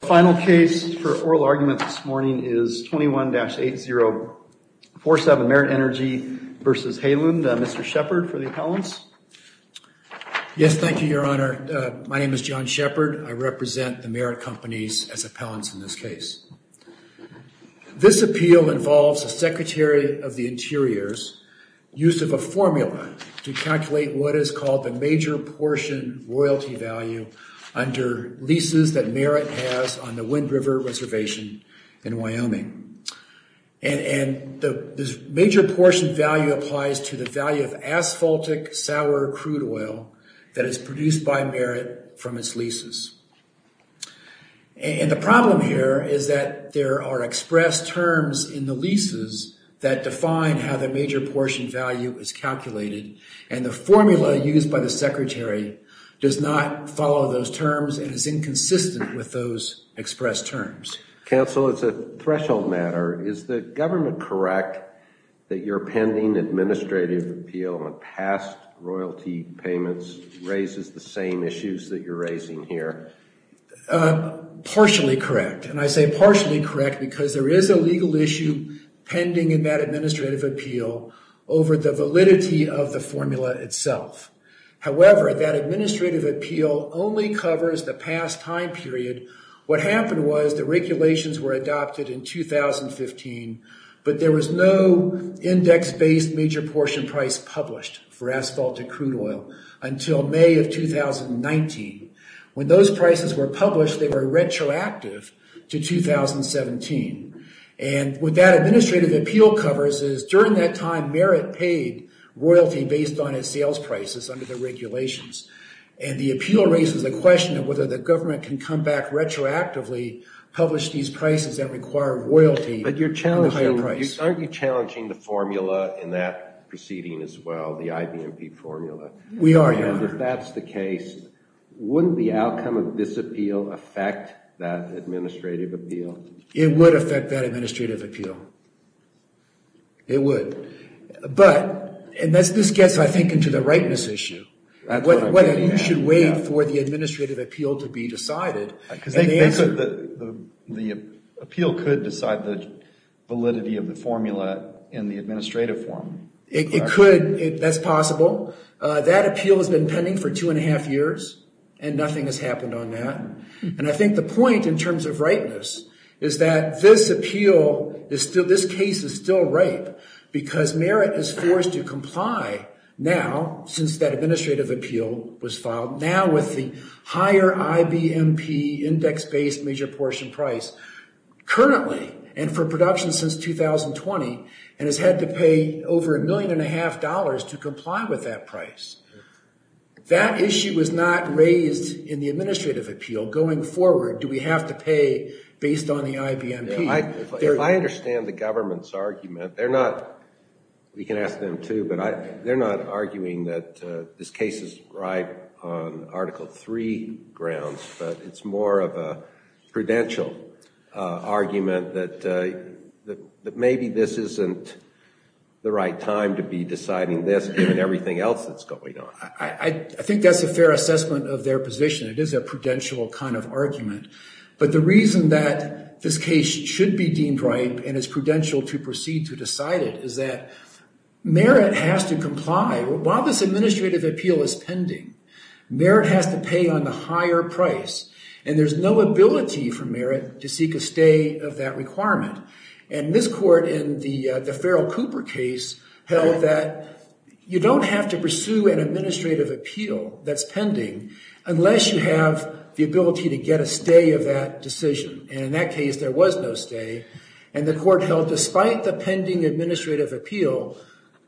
The final case for oral argument this morning is 21-8047 Merit Energy v. Haaland. Mr. Shepard for the appellants. Yes, thank you, Your Honor. My name is John Shepard. I represent the Merit Companies as appellants in this case. This appeal involves the Secretary of the Interiors use of a formula to calculate what is called the major portion royalty value under leases that Merit has on the Wind River Reservation in Wyoming. And the major portion value applies to the value of asphaltic sour crude oil that is produced by Merit from its leases. And the problem here is that there are express terms in the leases that define how the major portion value is calculated, and the formula used by the Secretary does not follow those with those express terms. Counsel, it's a threshold matter. Is the government correct that you're pending administrative appeal on past royalty payments raises the same issues that you're raising here? Partially correct, and I say partially correct because there is a legal issue pending in that administrative appeal over the validity of the formula itself. However, that administrative appeal only covers the past time period. What happened was the regulations were adopted in 2015, but there was no index-based major portion price published for asphaltic crude oil until May of 2019. When those prices were published, they were retroactive to 2017. And what that administrative appeal covers is during that time Merit paid royalty based on its sales prices under the regulations. And the appeal raises the question of whether the government can come back retroactively, publish these prices that require royalty at a higher price. But aren't you challenging the formula in that proceeding as well, the IBMP formula? We are, yes. And if that's the case, wouldn't the outcome of this appeal affect that administrative appeal? It would affect that administrative appeal. It would. But, and this gets I think into the rightness issue, whether you should wait for the administrative appeal to be decided. Because the appeal could decide the validity of the formula in the administrative form. It could, that's possible. That appeal has been pending for two and a half years and nothing has happened on that. And I think the point in terms of rightness is that this appeal is still, this case is still ripe because Merit is forced to comply now since that administrative appeal was filed. Now with the higher IBMP index based major portion price currently and for production since 2020 and has had to pay over a million and a half dollars to comply with that price. That issue was not raised in the administrative appeal going forward. Do we have to pay based on the IBMP? If I understand the government's argument, they're not, we can ask them too, but they're not arguing that this case is ripe on Article 3 grounds, but it's more of a prudential argument that maybe this isn't the right time to be deciding this given everything else that's going on. I think that's a fair assessment of their position. It is a prudential kind of argument, but the reason that this case should be deemed ripe and is prudential to proceed to decide it is that Merit has to comply. While this administrative appeal is pending, Merit has to pay on the higher price and there's no ability for Merit to seek a stay of that requirement. And this court in the Farrell Cooper case held that you don't have to pursue an administrative appeal that's pending unless you have the ability to get a stay of that decision. And in that case, there was no stay and the court held despite the pending administrative appeal,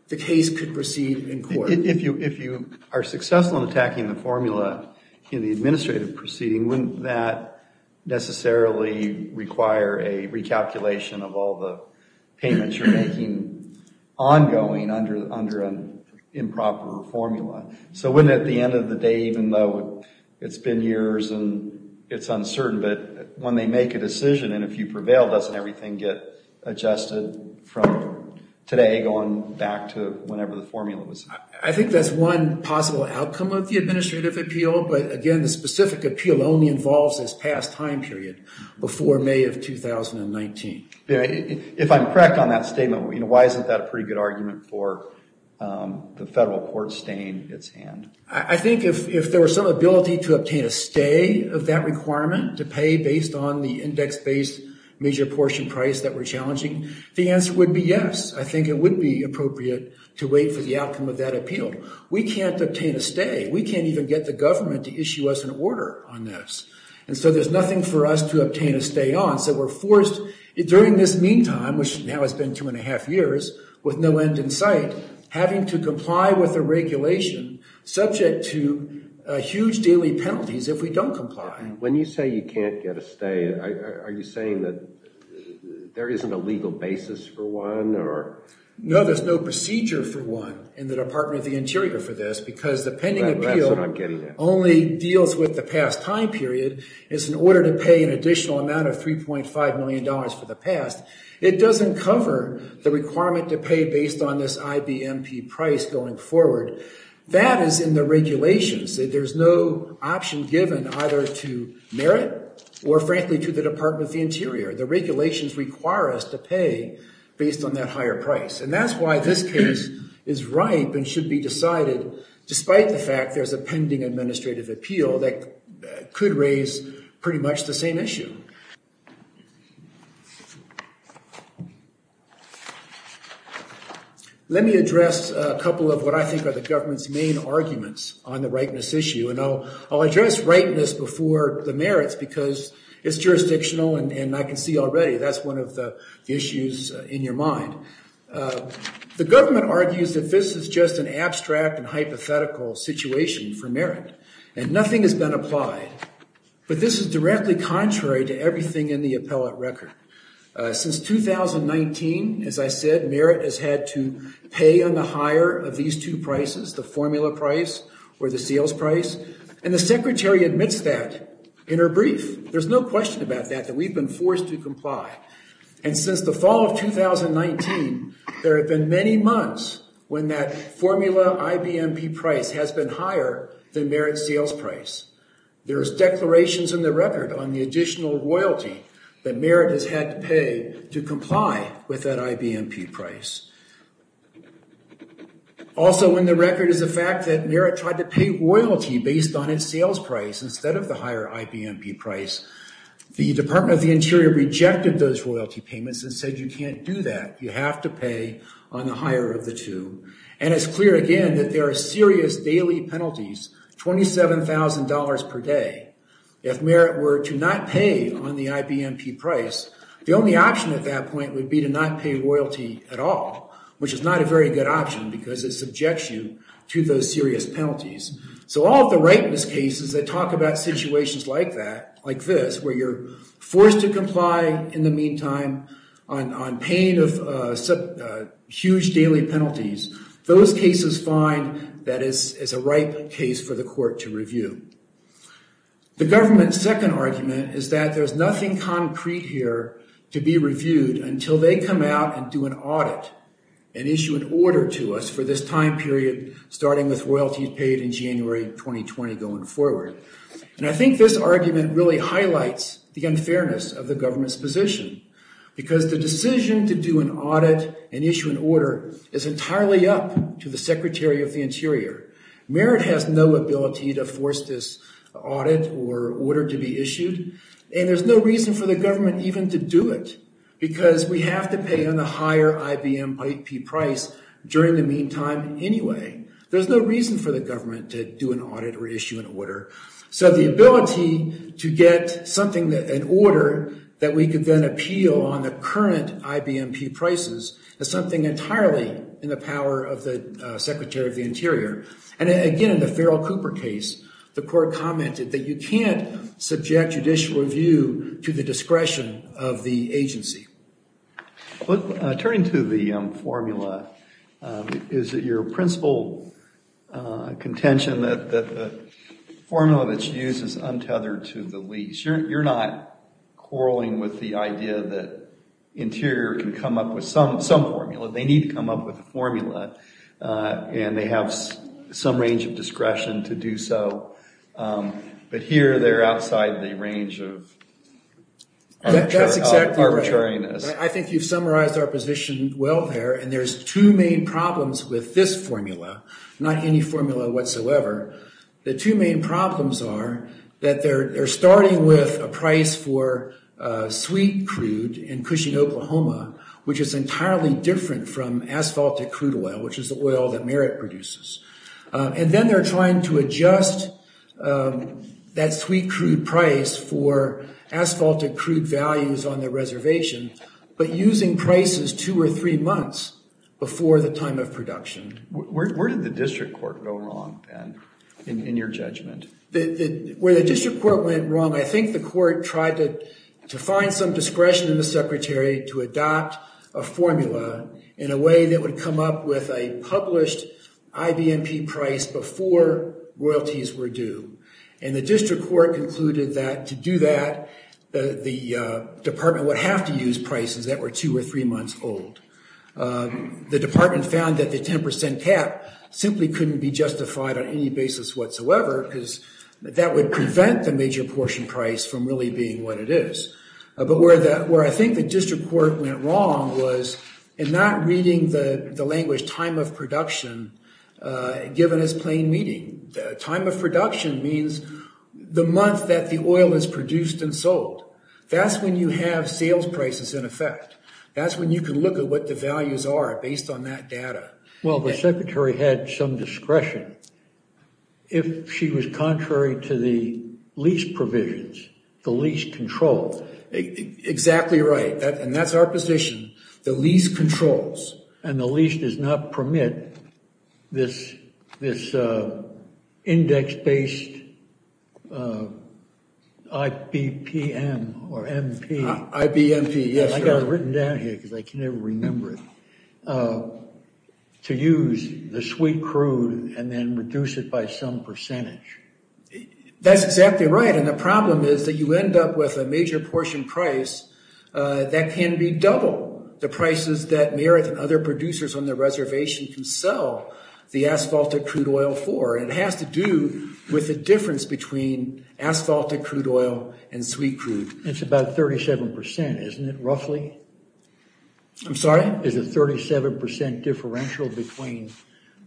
the case could proceed in court. If you are successful in attacking the formula in the administrative proceeding, wouldn't that necessarily require a recalculation of all the payments you're making ongoing under an improper formula? So wouldn't at the end of the day, even though it's been years and it's uncertain, but when they make a decision and if you prevail, doesn't everything get adjusted from today going back to whenever the formula was? I think that's one possible outcome of the administrative appeal, but again, the specific appeal only involves this past time period before May of 2019. If I'm correct on that statement, why isn't that a pretty good argument for the federal court staying its hand? I think if there was some ability to obtain a stay of that requirement to pay based on the index-based major portion price that we're challenging, the answer would be yes. I think it would be appropriate to wait for the outcome of that appeal. We can't obtain a stay. We can't even get the government to issue us an order on this, and so there's nothing for us to obtain a stay on. So we're forced during this meantime, which now has been two and a half years with no end in sight, having to comply with a regulation subject to huge daily penalties if we don't comply. When you say you can't get a stay, are you saying that there isn't a legal basis for one? No, there's no procedure for one in the Department of the Interior for this because the pending appeal only deals with the past time period. It's in order to pay an additional amount of $3.5 million for the past. It doesn't cover the requirement to pay based on this IBMP price going forward. That is in the regulations. There's no option given either to the Interior. The regulations require us to pay based on that higher price, and that's why this case is ripe and should be decided despite the fact there's a pending administrative appeal that could raise pretty much the same issue. Let me address a couple of what I think are the government's main arguments on the rightness because it's jurisdictional, and I can see already that's one of the issues in your mind. The government argues that this is just an abstract and hypothetical situation for merit, and nothing has been applied, but this is directly contrary to everything in the appellate record. Since 2019, as I said, merit has had to pay on the higher of these two prices, the formula price or the sales price, and the Secretary admits that in her brief. There's no question about that that we've been forced to comply, and since the fall of 2019, there have been many months when that formula IBMP price has been higher than merit sales price. There's declarations in the record on the additional royalty that merit has had to pay to comply with that IBMP price. Also in the record is the fact that merit tried to pay royalty based on its sales price instead of the higher IBMP price. The Department of the Interior rejected those royalty payments and said you can't do that. You have to pay on the higher of the two, and it's clear again that there are serious daily penalties, $27,000 per day. If merit were to not pay on the IBMP price, the only option at that point would be to not pay royalty at all, which is not a very good option because it subjects you to those serious penalties. So all of the rightness cases that talk about situations like that, like this, where you're forced to comply in the meantime on paying of huge daily penalties, those cases find that is a right case for the court to review. The government's second argument is that there's nothing concrete here to be reviewed until they come out and do an audit and issue an order to us for this time period starting with royalties paid in January 2020 going forward. And I think this argument really highlights the unfairness of the government's position because the decision to do an audit and issue an order is entirely up to the Secretary of the Interior. Merit has no ability to force this audit or order to be issued, and there's no reason for the government even to do it because we have to pay on the higher IBMP price during the meantime anyway. There's no reason for the government to do an audit or issue an order. So the ability to get something, an order, that we could then appeal on the current IBMP prices is something entirely in the power of the Secretary of the Interior. And again, in the Farrell Cooper case, the court commented that you can't subject judicial review to the discretion of the agency. But turning to the formula, is it your principal contention that the formula that's used is untethered to the least? You're not quarreling with the idea that some formula, they need to come up with a formula, and they have some range of discretion to do so. But here they're outside the range of arbitrariness. That's exactly right. I think you've summarized our position well there, and there's two main problems with this formula, not any formula whatsoever. The two main problems are that they're starting with a price for sweet crude in Cushing, Oklahoma, which is entirely different from asphaltic crude oil, which is the oil that Merritt produces. And then they're trying to adjust that sweet crude price for asphaltic crude values on the reservation, but using prices two or three months before the time of production. Where did the district court go wrong, Ben, in your judgment? Where the district court went wrong, I think the court tried to find some discretion in the secretary to adopt a formula in a way that would come up with a published IBMP price before royalties were due. And the district court concluded that to do that, the department would have to use prices that were two or three months old. The department found that the 10% cap simply couldn't be justified on any basis whatsoever, because that would prevent the major portion price from really being what it is. But where I think the district court went wrong was in not reading the language time of production given as plain reading. Time of production means the month that the oil is produced and sold. That's when you have sales prices in effect. That's when you can look at what the values are based on that data. Well, the secretary had some discretion. If she was contrary to the lease provisions, the lease controls. Exactly right. And that's our position. The lease controls. And the lease does not permit this index-based uh IBPM or MP. IBMP, yes. I got it written down here because I can never remember it. To use the sweet crude and then reduce it by some percentage. That's exactly right. And the problem is that you end up with a major portion price that can be double the prices that Merritt and other producers on the reservation can sell the asphaltic crude oil for. It has to do with the difference between asphaltic crude oil and sweet crude. It's about 37 percent, isn't it, roughly? I'm sorry? Is it 37 percent differential between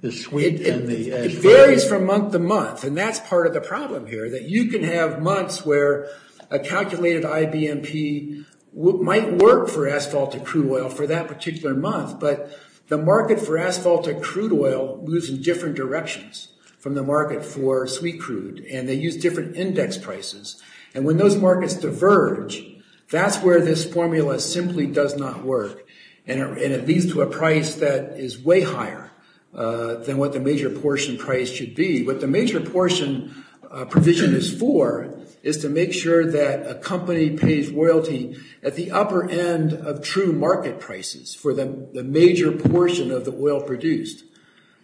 the sweet and the asphaltic? It varies from month to month. And that's part of the problem here, that you can have months where a calculated IBMP might work for asphaltic crude oil for that particular month, but the market for asphaltic crude oil moves in different directions from the market for sweet crude, and they use different index prices. And when those markets diverge, that's where this formula simply does not work. And it leads to a price that is way higher than what the major portion price should be. What the major portion provision is for is to make sure that a company pays royalty at the upper end of true market prices for the major portion of the oil produced,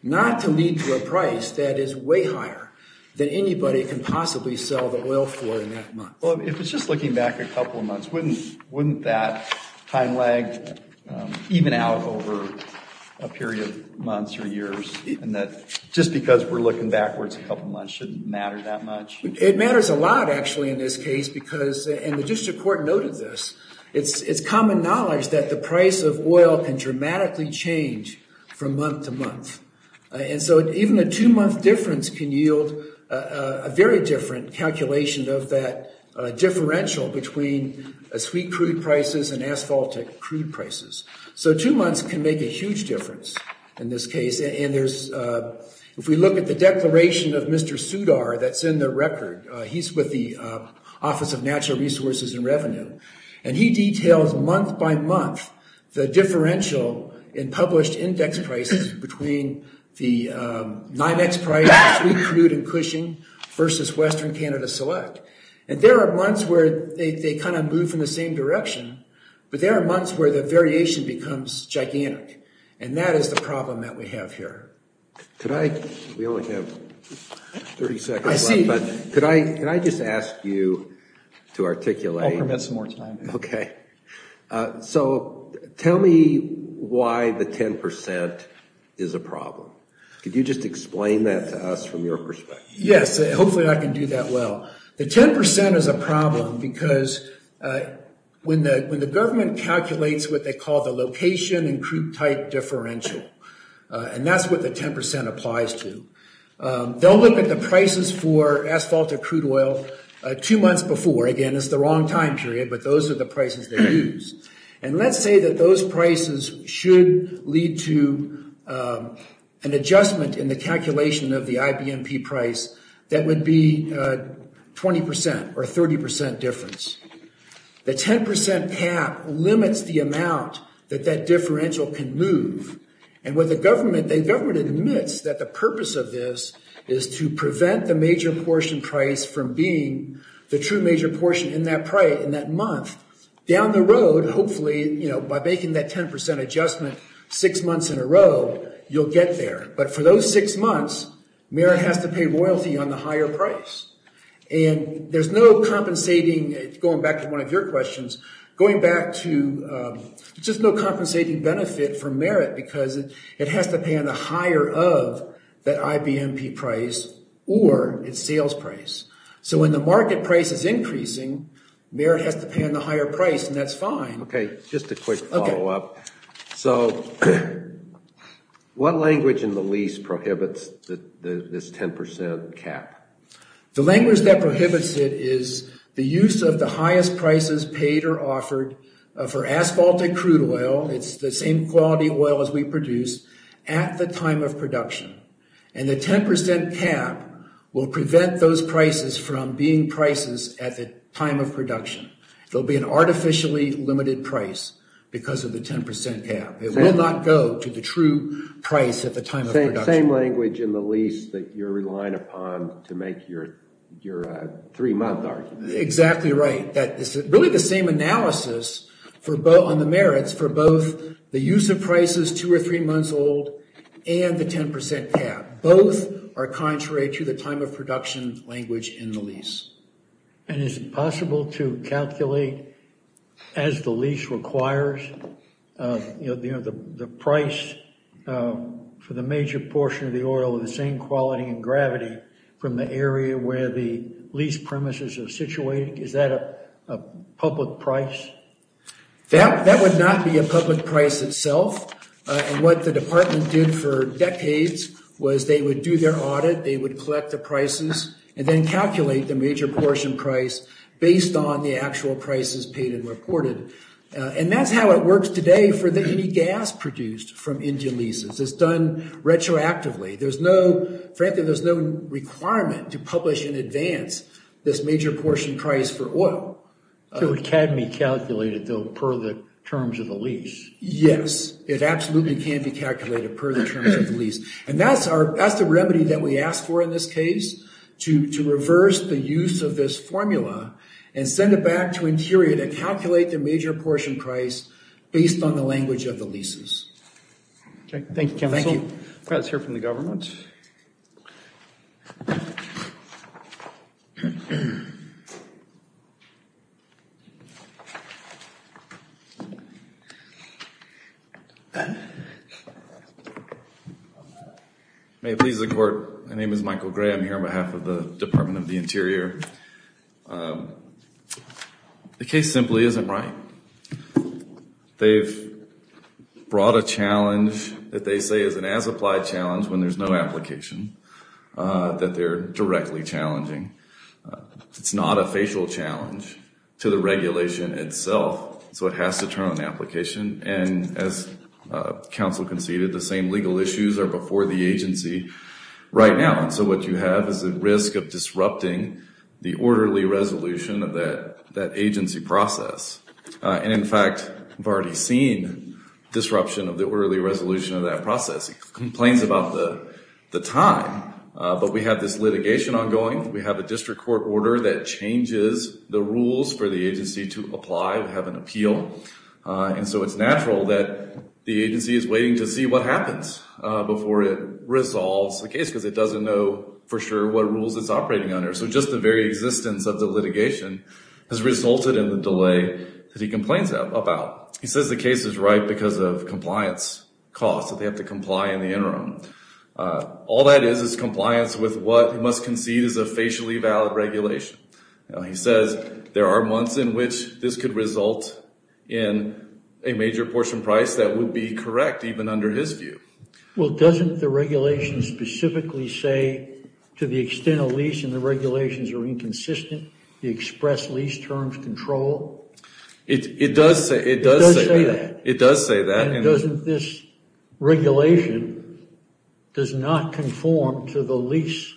not to lead to a price that is way higher than anybody can possibly sell the oil for in that month. Well, if it's just looking back a couple of months, wouldn't that time lag even out over a period of months or years, even that just because we're looking backwards a couple months shouldn't matter that much? It matters a lot, actually, in this case, and the district court noted this. It's common knowledge that the price of oil can dramatically change from month to month. And so even a two-month difference can yield a very different calculation of that differential between sweet crude prices and asphaltic crude prices. So two months can make a huge difference in this case. And if we look at the declaration of Mr. Sudar that's in the record, he's with the Office of Natural Resources and Revenue, and he details month by month the differential in published index prices between the NYMEX price of sweet crude and Cushing versus Western Canada Select. And there are months where they kind of move in the same direction, but there are months where the variation becomes gigantic, and that is the problem. Could I just ask you to articulate? I'll permit some more time. Okay. So tell me why the 10% is a problem. Could you just explain that to us from your perspective? Yes, hopefully I can do that well. The 10% is a problem because when the government calculates what they call the location and crude type differential, and that's what the 10% applies to, they'll look at the prices for asphalt or crude oil two months before. Again, it's the wrong time period, but those are the prices they use. And let's say that those prices should lead to an adjustment in the calculation of the IBMP price that would be 20% or 30% difference. The 10% cap limits the amount that that differential can move. And when the government, the government admits that the major portion price from being the true major portion in that price in that month down the road, hopefully, you know, by making that 10% adjustment six months in a row, you'll get there. But for those six months, Merit has to pay royalty on the higher price. And there's no compensating, going back to one of your questions, going back to just no compensating benefit for Merit because it has to pay on the higher of that IBMP price or its sales price. So when the market price is increasing, Merit has to pay on the higher price and that's fine. Okay, just a quick follow up. So what language in the lease prohibits this 10% cap? The language that prohibits it is the use of the highest prices paid or offered for asphalt and crude oil. It's the same quality oil we produce at the time of production. And the 10% cap will prevent those prices from being prices at the time of production. There'll be an artificially limited price because of the 10% cap. It will not go to the true price at the time of production. Same language in the lease that you're relying upon to make your three month argument. Exactly right. That is really the same analysis on the Merits for both the use of prices two or three months old and the 10% cap. Both are contrary to the time of production language in the lease. And is it possible to calculate as the lease requires the price for the major portion of the oil of the same price? That would not be a public price itself. And what the department did for decades was they would do their audit, they would collect the prices, and then calculate the major portion price based on the actual prices paid and reported. And that's how it works today for any gas produced from Indian leases. It's done retroactively. There's no, frankly, there's no requirement to academy calculate it though per the terms of the lease. Yes, it absolutely can be calculated per the terms of the lease. And that's our, that's the remedy that we ask for in this case, to reverse the use of this formula and send it back to Interior to calculate the major portion price based on the language of the leases. Okay, thank you counsel. Let's hear from the government. May it please the court, my name is Michael Gray. I'm here on behalf of the Department of the Interior. The case simply isn't right. They've brought a challenge that they say is an as-applied challenge when there's no application, that they're directly challenging. It's not a facial challenge to the regulation itself, so it has to turn on application. And as counsel conceded, the same legal issues are before the agency right now. And so what you have is a risk of disrupting the orderly resolution of that agency process. And in fact, I've already seen disruption of the orderly resolution of that process. He complains about the time, but we have this litigation ongoing. We have a district court order that changes the rules for the agency to apply, to have an appeal. And so it's natural that the agency is waiting to see what happens before it resolves the case, because it doesn't know for sure what rules it's operating under. So just the very existence of the litigation has resulted in the delay that he complains about. He says the case is right because of compliance costs, that they have to comply in the interim. All that is, is compliance with what he must concede is a facially valid regulation. He says there are months in which this could result in a major portion price that would be correct, even under his view. Well, doesn't the regulation specifically say to the extent of lease and the regulations are inconsistent, the express lease terms control? It does say that. It does say that. And doesn't this regulation does not conform to the lease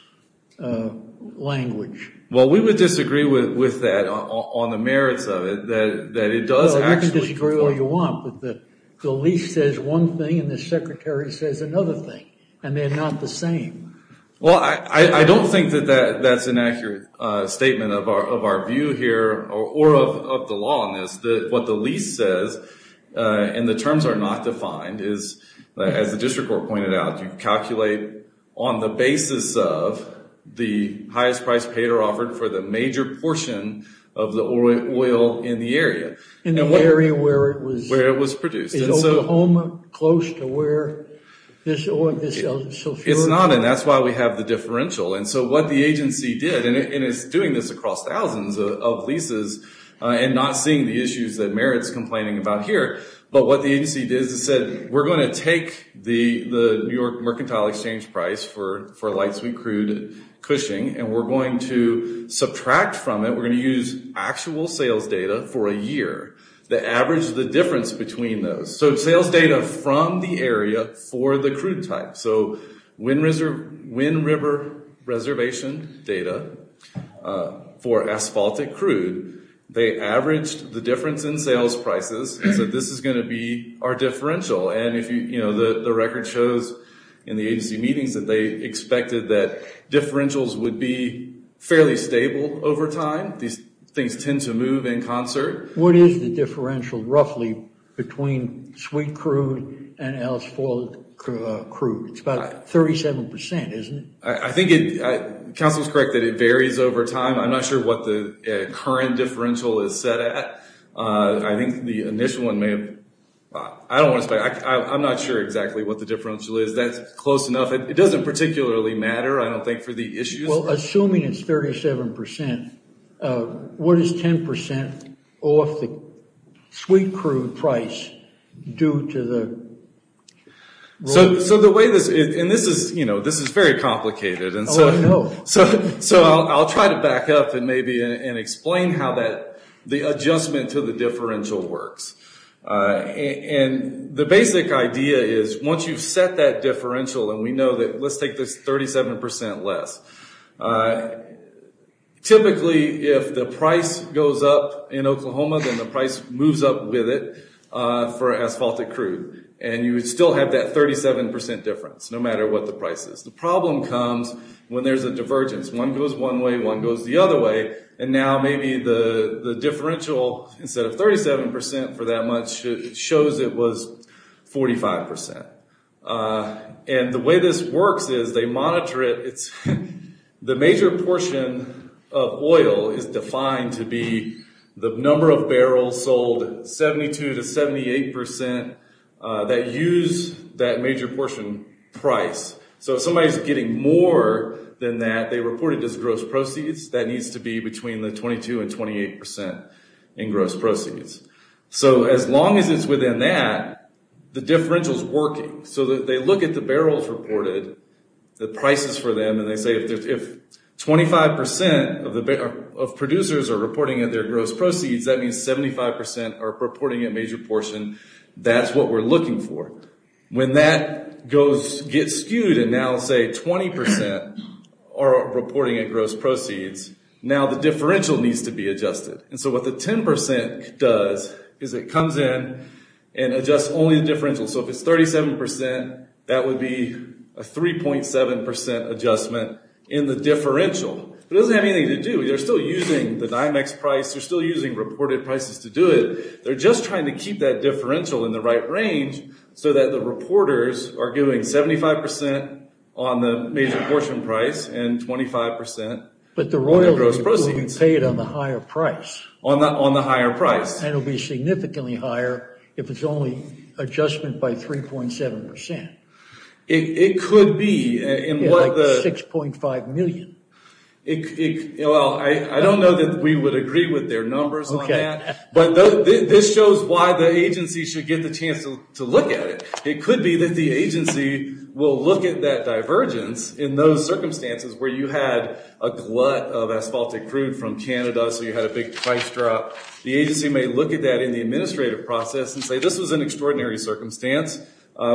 language? Well, we would disagree with that on the merits of it, that it does actually- Well, you can disagree all you want, but the lease says one thing and the secretary says another thing, and they're not the same. Well, I don't think that that's an accurate statement of our view here or of the law on this, that what the lease says and the terms are not defined is, as the district court pointed out, you calculate on the basis of the highest price paid or offered for the major portion of the oil in the area. In the area where it was- Where it was produced. In Oklahoma, close to where this oil, this sulfur- It's not, and that's why we have the differential. And so what the agency did, and it's doing this across thousands of leases and not seeing the issues that Merit's complaining about here, but what the agency did is it said, we're going to take the New York Mercantile Exchange price for Light Sweet Crude Cushing, and we're going to subtract from it, we're going to use actual sales data for a year that averages the difference between those. So sales data from the area for the crude type. So Wind River Reservation data for Asphaltic Crude, they averaged the difference in sales prices and said, this is going to be our differential. And the record shows in the agency meetings that they expected that differentials would be fairly stable over time. These things tend to move in concert. What is the differential, roughly, between Sweet Crude and Asphaltic Crude? It's about 37%, isn't it? I think Council is correct that it varies over time. I'm not sure what the current differential is set at. I think the initial one may have- I don't want to- I'm not sure exactly what the differential is. That's close enough. It doesn't particularly matter, I don't think, for the issues. Assuming it's 37%, what is 10% off the Sweet Crude price due to the- So the way this- and this is, you know, this is very complicated. So I'll try to back up and maybe explain how the adjustment to the differential works. And the basic idea is, once you've set that differential, and we know that- let's take this 37% less. Typically, if the price goes up in Oklahoma, then the price moves up with it for Asphaltic Crude. And you would still have that 37% difference, no matter what the price is. The problem comes when there's a divergence. One goes one way, one goes the other way, and now maybe the differential, instead of 37% for that much, shows it was 45%. And the way this works is, they monitor it. The major portion of oil is defined to be the number of barrels sold, 72% to 78%, that use that major portion price. So if somebody's getting more than that, they report it as gross proceeds. That needs to be between the differentials working. So they look at the barrels reported, the prices for them, and they say if 25% of producers are reporting at their gross proceeds, that means 75% are reporting a major portion. That's what we're looking for. When that goes- gets skewed, and now say 20% are reporting at gross proceeds, now the differential needs to be adjusted. And so what the 10% does, is it comes in and adjusts only the differential. So if it's 37%, that would be a 3.7% adjustment in the differential. It doesn't have anything to do- they're still using the Dimex price, they're still using reported prices to do it. They're just trying to keep that differential in the right range, so that the reporters are giving 75% on the major portion price, and 25% on the gross proceeds. But the royalty will be paid on the higher price. On the higher price. And it'll be significantly higher if it's only adjustment by 3.7%. It could be. Like 6.5 million. Well, I don't know that we would agree with their numbers on that, but this shows why the agency should get the chance to look at it. It could be that the agency will look at that divergence in those circumstances where you had a glut of asphaltic crude from Canada, so you had a big price drop. The agency may look at that in the administrative process and say, this was an extraordinary circumstance.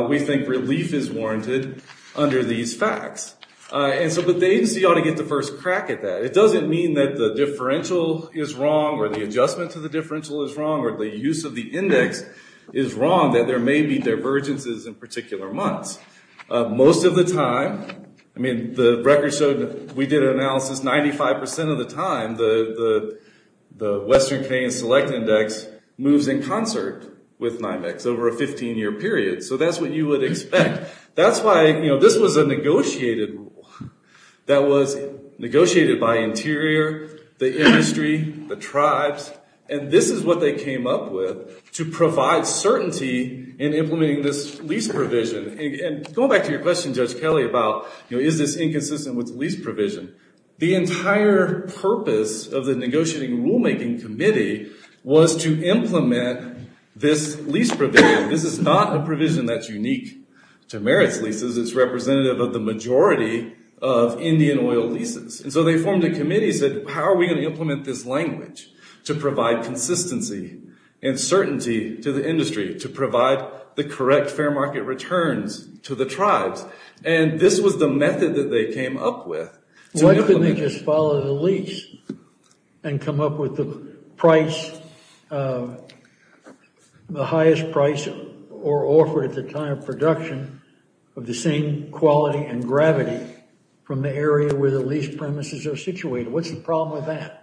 We think relief is warranted under these facts. And so the agency ought to get the first crack at that. It doesn't mean that the differential is wrong, or the adjustment to the differential is wrong, or the use of the index is wrong, that there may be divergences in particular months. Most of the time, the record showed, we did an analysis, 95% of the time, the Western Canadian Select Index moves in concert with NIMEX over a 15-year period. So that's what you would expect. That's why this was a negotiated rule. That was negotiated by Interior, the industry, the tribes, and this is what they came up with to provide certainty in implementing this lease provision. And going back to your question, Judge Kelly, about is this inconsistent with lease provision, the entire purpose of the negotiating rulemaking committee was to implement this lease provision. This is not a provision that's unique to merits leases. It's representative of the majority of Indian oil leases. And so they formed a committee that said, how are we going to implement this language to provide consistency and certainty to the industry, to provide the correct fair market returns to the tribes? And this was the method that they came up with. Why couldn't they just follow the lease and come up with the highest price offered at the time of production of the same quality and gravity from the area where the lease premises are situated? What's the problem with that?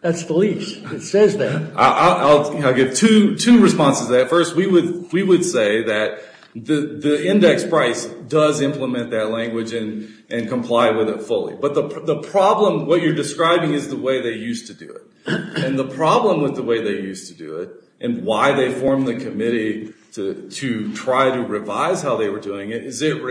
That's the lease. It says that. I'll give two responses to that. First, we would say that the index price does implement that language and comply with it fully. But the problem, what you're describing is the way they used to do it. And the problem with the way they used to do it and why they formed the committee to try to revise how they were doing it is it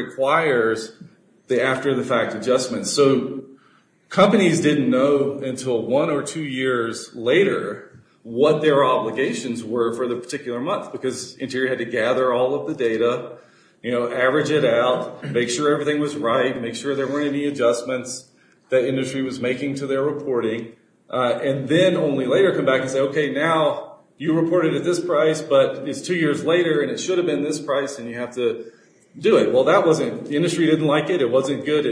until one or two years later, what their obligations were for the particular month. Because Interior had to gather all of the data, average it out, make sure everything was right, make sure there weren't any adjustments that industry was making to their reporting. And then only later come back and say, okay, now you reported at this price, but it's two years later and it should have been this price and you have to do it. Well, the industry didn't like it. It wasn't good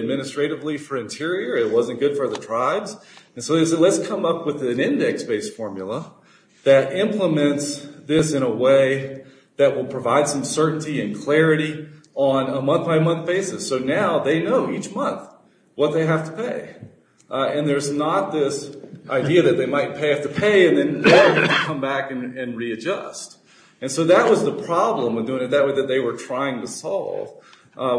for the tribes. And so they said, let's come up with an index-based formula that implements this in a way that will provide some certainty and clarity on a month-by-month basis. So now they know each month what they have to pay. And there's not this idea that they might have to pay and then come back and readjust. And so that was the problem with doing it that way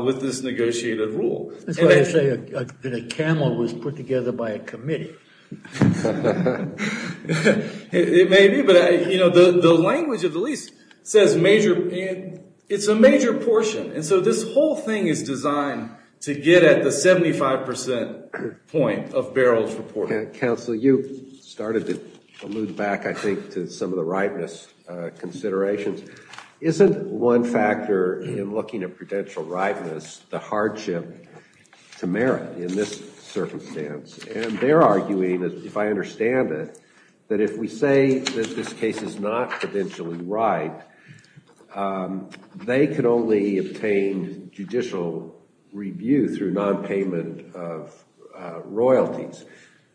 with this negotiated rule. That's why they say a camel was put together by a committee. It may be, but you know, the language of the lease says major, it's a major portion. And so this whole thing is designed to get at the 75 percent point of barrels reported. Counsel, you started to move back, I think, to some of the ripeness considerations. Isn't one factor in looking at prudential ripeness the hardship to merit in this circumstance? And they're arguing, if I understand it, that if we say that this case is not prudentially ripe, they could only obtain judicial review through non-payment of royalties.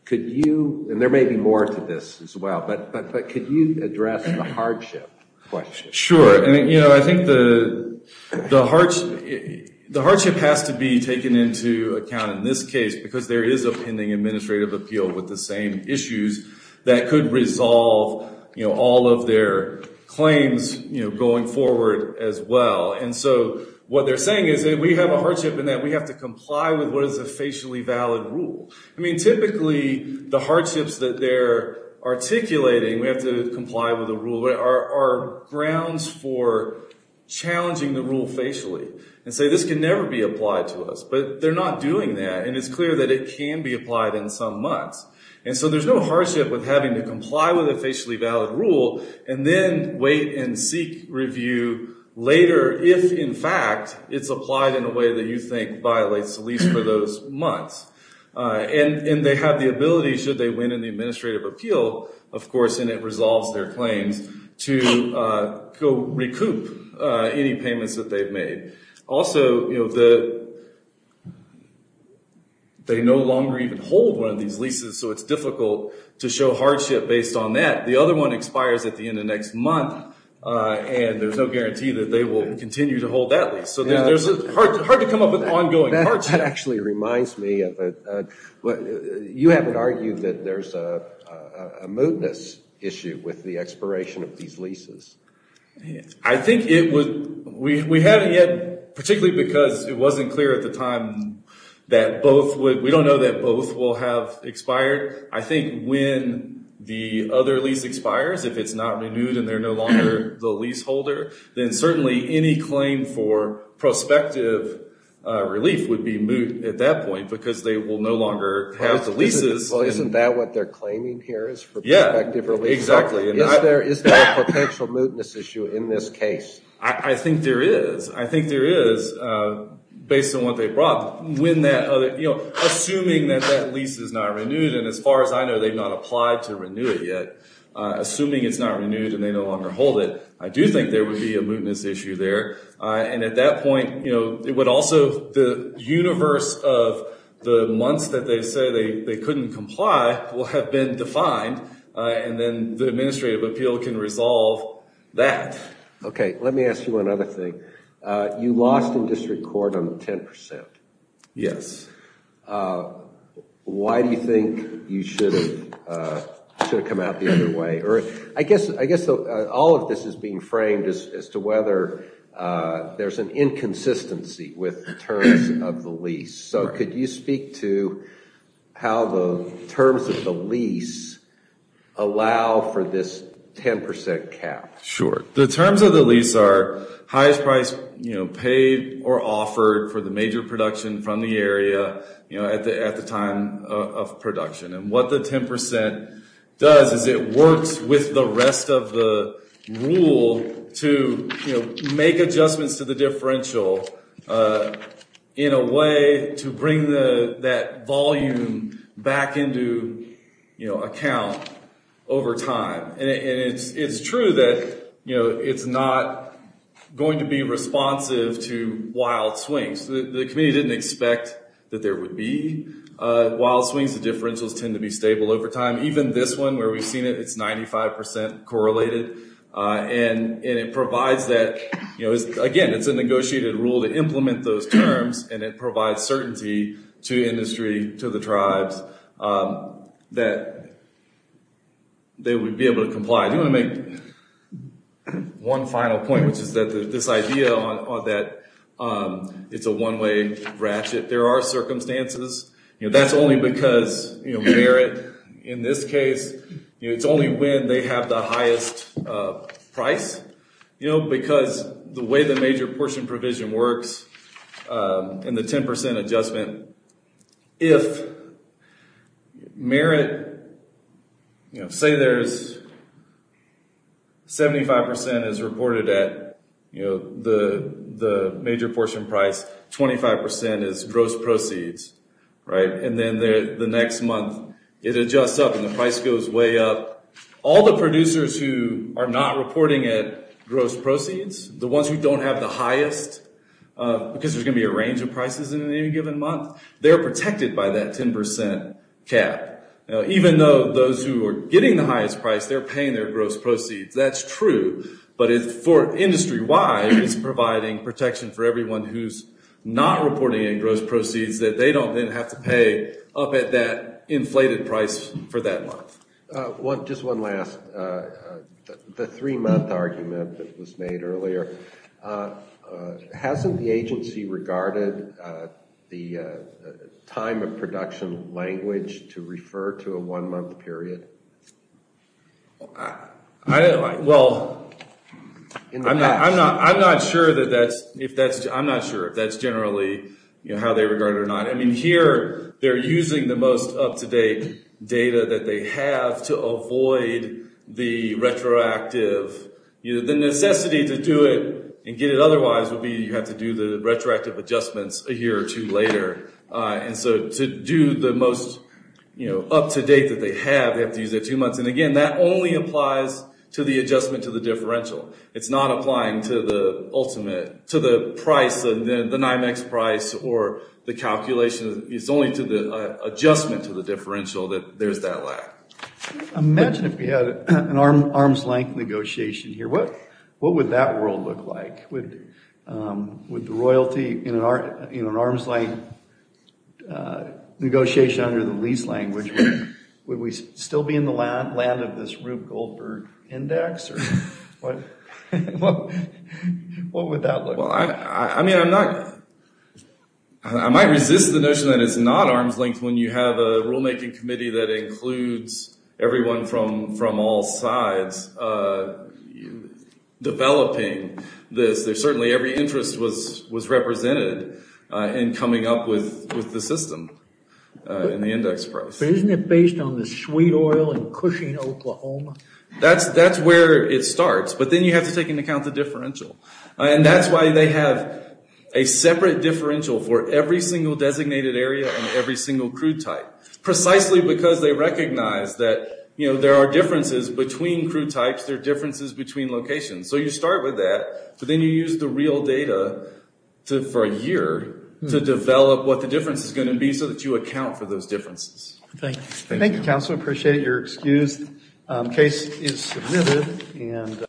Could you, and there may be more to this as well, but could you address the hardship question? Sure. And I think the hardship has to be taken into account in this case because there is a pending administrative appeal with the same issues that could resolve all of their claims going forward as well. And so what they're saying is that we have a hardship in that we have to comply with what is a facially valid rule. I mean, typically the hardships that they're articulating, we have to comply with a rule, are grounds for challenging the rule facially and say, this can never be applied to us. But they're not doing that. And it's clear that it can be applied in some months. And so there's no hardship with having to comply with a facially valid rule and then wait and seek review later if, in fact, it's applied in a way that you think violates the lease for those months. And they have the ability, should they win in the administrative appeal, of course, and it resolves their claims, to go recoup any payments that they've made. Also, they no longer even hold one of these leases, so it's difficult to show hardship based on that. The other one expires at the end of next month, and there's no guarantee that they will continue to hold that lease. So there's hard to come up with ongoing hardship. That actually reminds me of, you haven't argued that there's a mootness issue with the expiration of these leases. I think it would, we haven't yet, particularly because it wasn't clear at the time that both would, we don't know that both will have expired. I think when the other lease expires, if it's not renewed and they're no longer the leaseholder, then certainly any claim for prospective relief would be moot at that point, because they will no longer have the leases. Well, isn't that what they're claiming here, is for prospective relief? Yeah, exactly. Is there a potential mootness issue in this case? I think there is. I think there is, based on what they brought. Assuming that that lease is not renewed, and as far as I know, they've not applied to renew it yet. Assuming it's not renewed and they no longer hold it, I do think there would be a mootness issue there. And at that point, it would also, the universe of the months that they say they couldn't comply will have been defined, and then the administrative appeal can resolve that. Okay. Let me ask you another thing. You lost in district court on 10%. Yes. Why do you think you should have come out the other way? I guess all of this is being framed as to whether there's an inconsistency with the terms of the lease. So could you speak to how the terms of the lease allow for this 10% cap? Sure. The terms of the lease are highest price paid or offered for the major production from the area at the time of production. And what the 10% does is it works with the rest of the rule to make adjustments to the differential in a way to bring that volume back into account over time. And it's true that it's not going to be responsive to wild swings. The community didn't expect that there would be wild swings. The differentials tend to be stable over time. Even this one where we've seen it, it's 95% correlated. And it provides that, again, it's a negotiated rule to implement those terms, and it provides certainty to industry, to the tribes that they would be able to comply. I do want to make one final point, which is that this idea that it's a one-way ratchet, there are circumstances. That's only because merit, in this case, it's only when they have the highest price. Because the way the major at the major portion price, 25% is gross proceeds. And then the next month it adjusts up and the price goes way up. All the producers who are not reporting at gross proceeds, the ones who don't have the highest, because there's going to be a range of prices in any given month, they're protected by that 10% cap. Even though those who are getting the highest price, they're paying their gross proceeds. That's true. But for industry-wide, it's providing protection for everyone who's not reporting in gross proceeds that they don't then have to pay up at that inflated price for that month. Just one last, the three-month argument that was made earlier, hasn't the agency regarded the time of production language to refer to a one-month period? I don't know. Well, I'm not sure that that's... I'm not sure if that's generally how they regard it or not. Here, they're using the most up-to-date data that they have to avoid the retroactive... The necessity to do it and get it otherwise would be you have to do the retroactive adjustments a year or two later. To do the most up-to-date that they have, they have to use that two months. Again, that only applies to the adjustment to the differential. It's not applying to the ultimate, to the price, the NYMEX price or the calculation. It's only to the adjustment to the differential that there's that lack. Imagine if we had an arm's-length negotiation here. What would that world look like? Would the royalty in an arm's-length negotiation under the lease language, would we still be in the land of this Rube Goldberg index? What would that look like? Well, I might resist the notion that it's not arm's-length when you have a rule-making committee that includes everyone from all sides developing this. There's certainly every interest was represented in coming up with the system and the index price. But isn't it based on the sweet oil in Cushing, Oklahoma? That's where it starts, but then you have to take into account the differential. That's why they have a separate differential for every single designated area and every single crew type, precisely because they recognize that there are differences between crew types, there are differences between locations. So you start with that, but then you use the real data for a year to develop what the difference is going to be so that you account for those differences. Thank you, counsel. I appreciate your excuse. The case is submitted.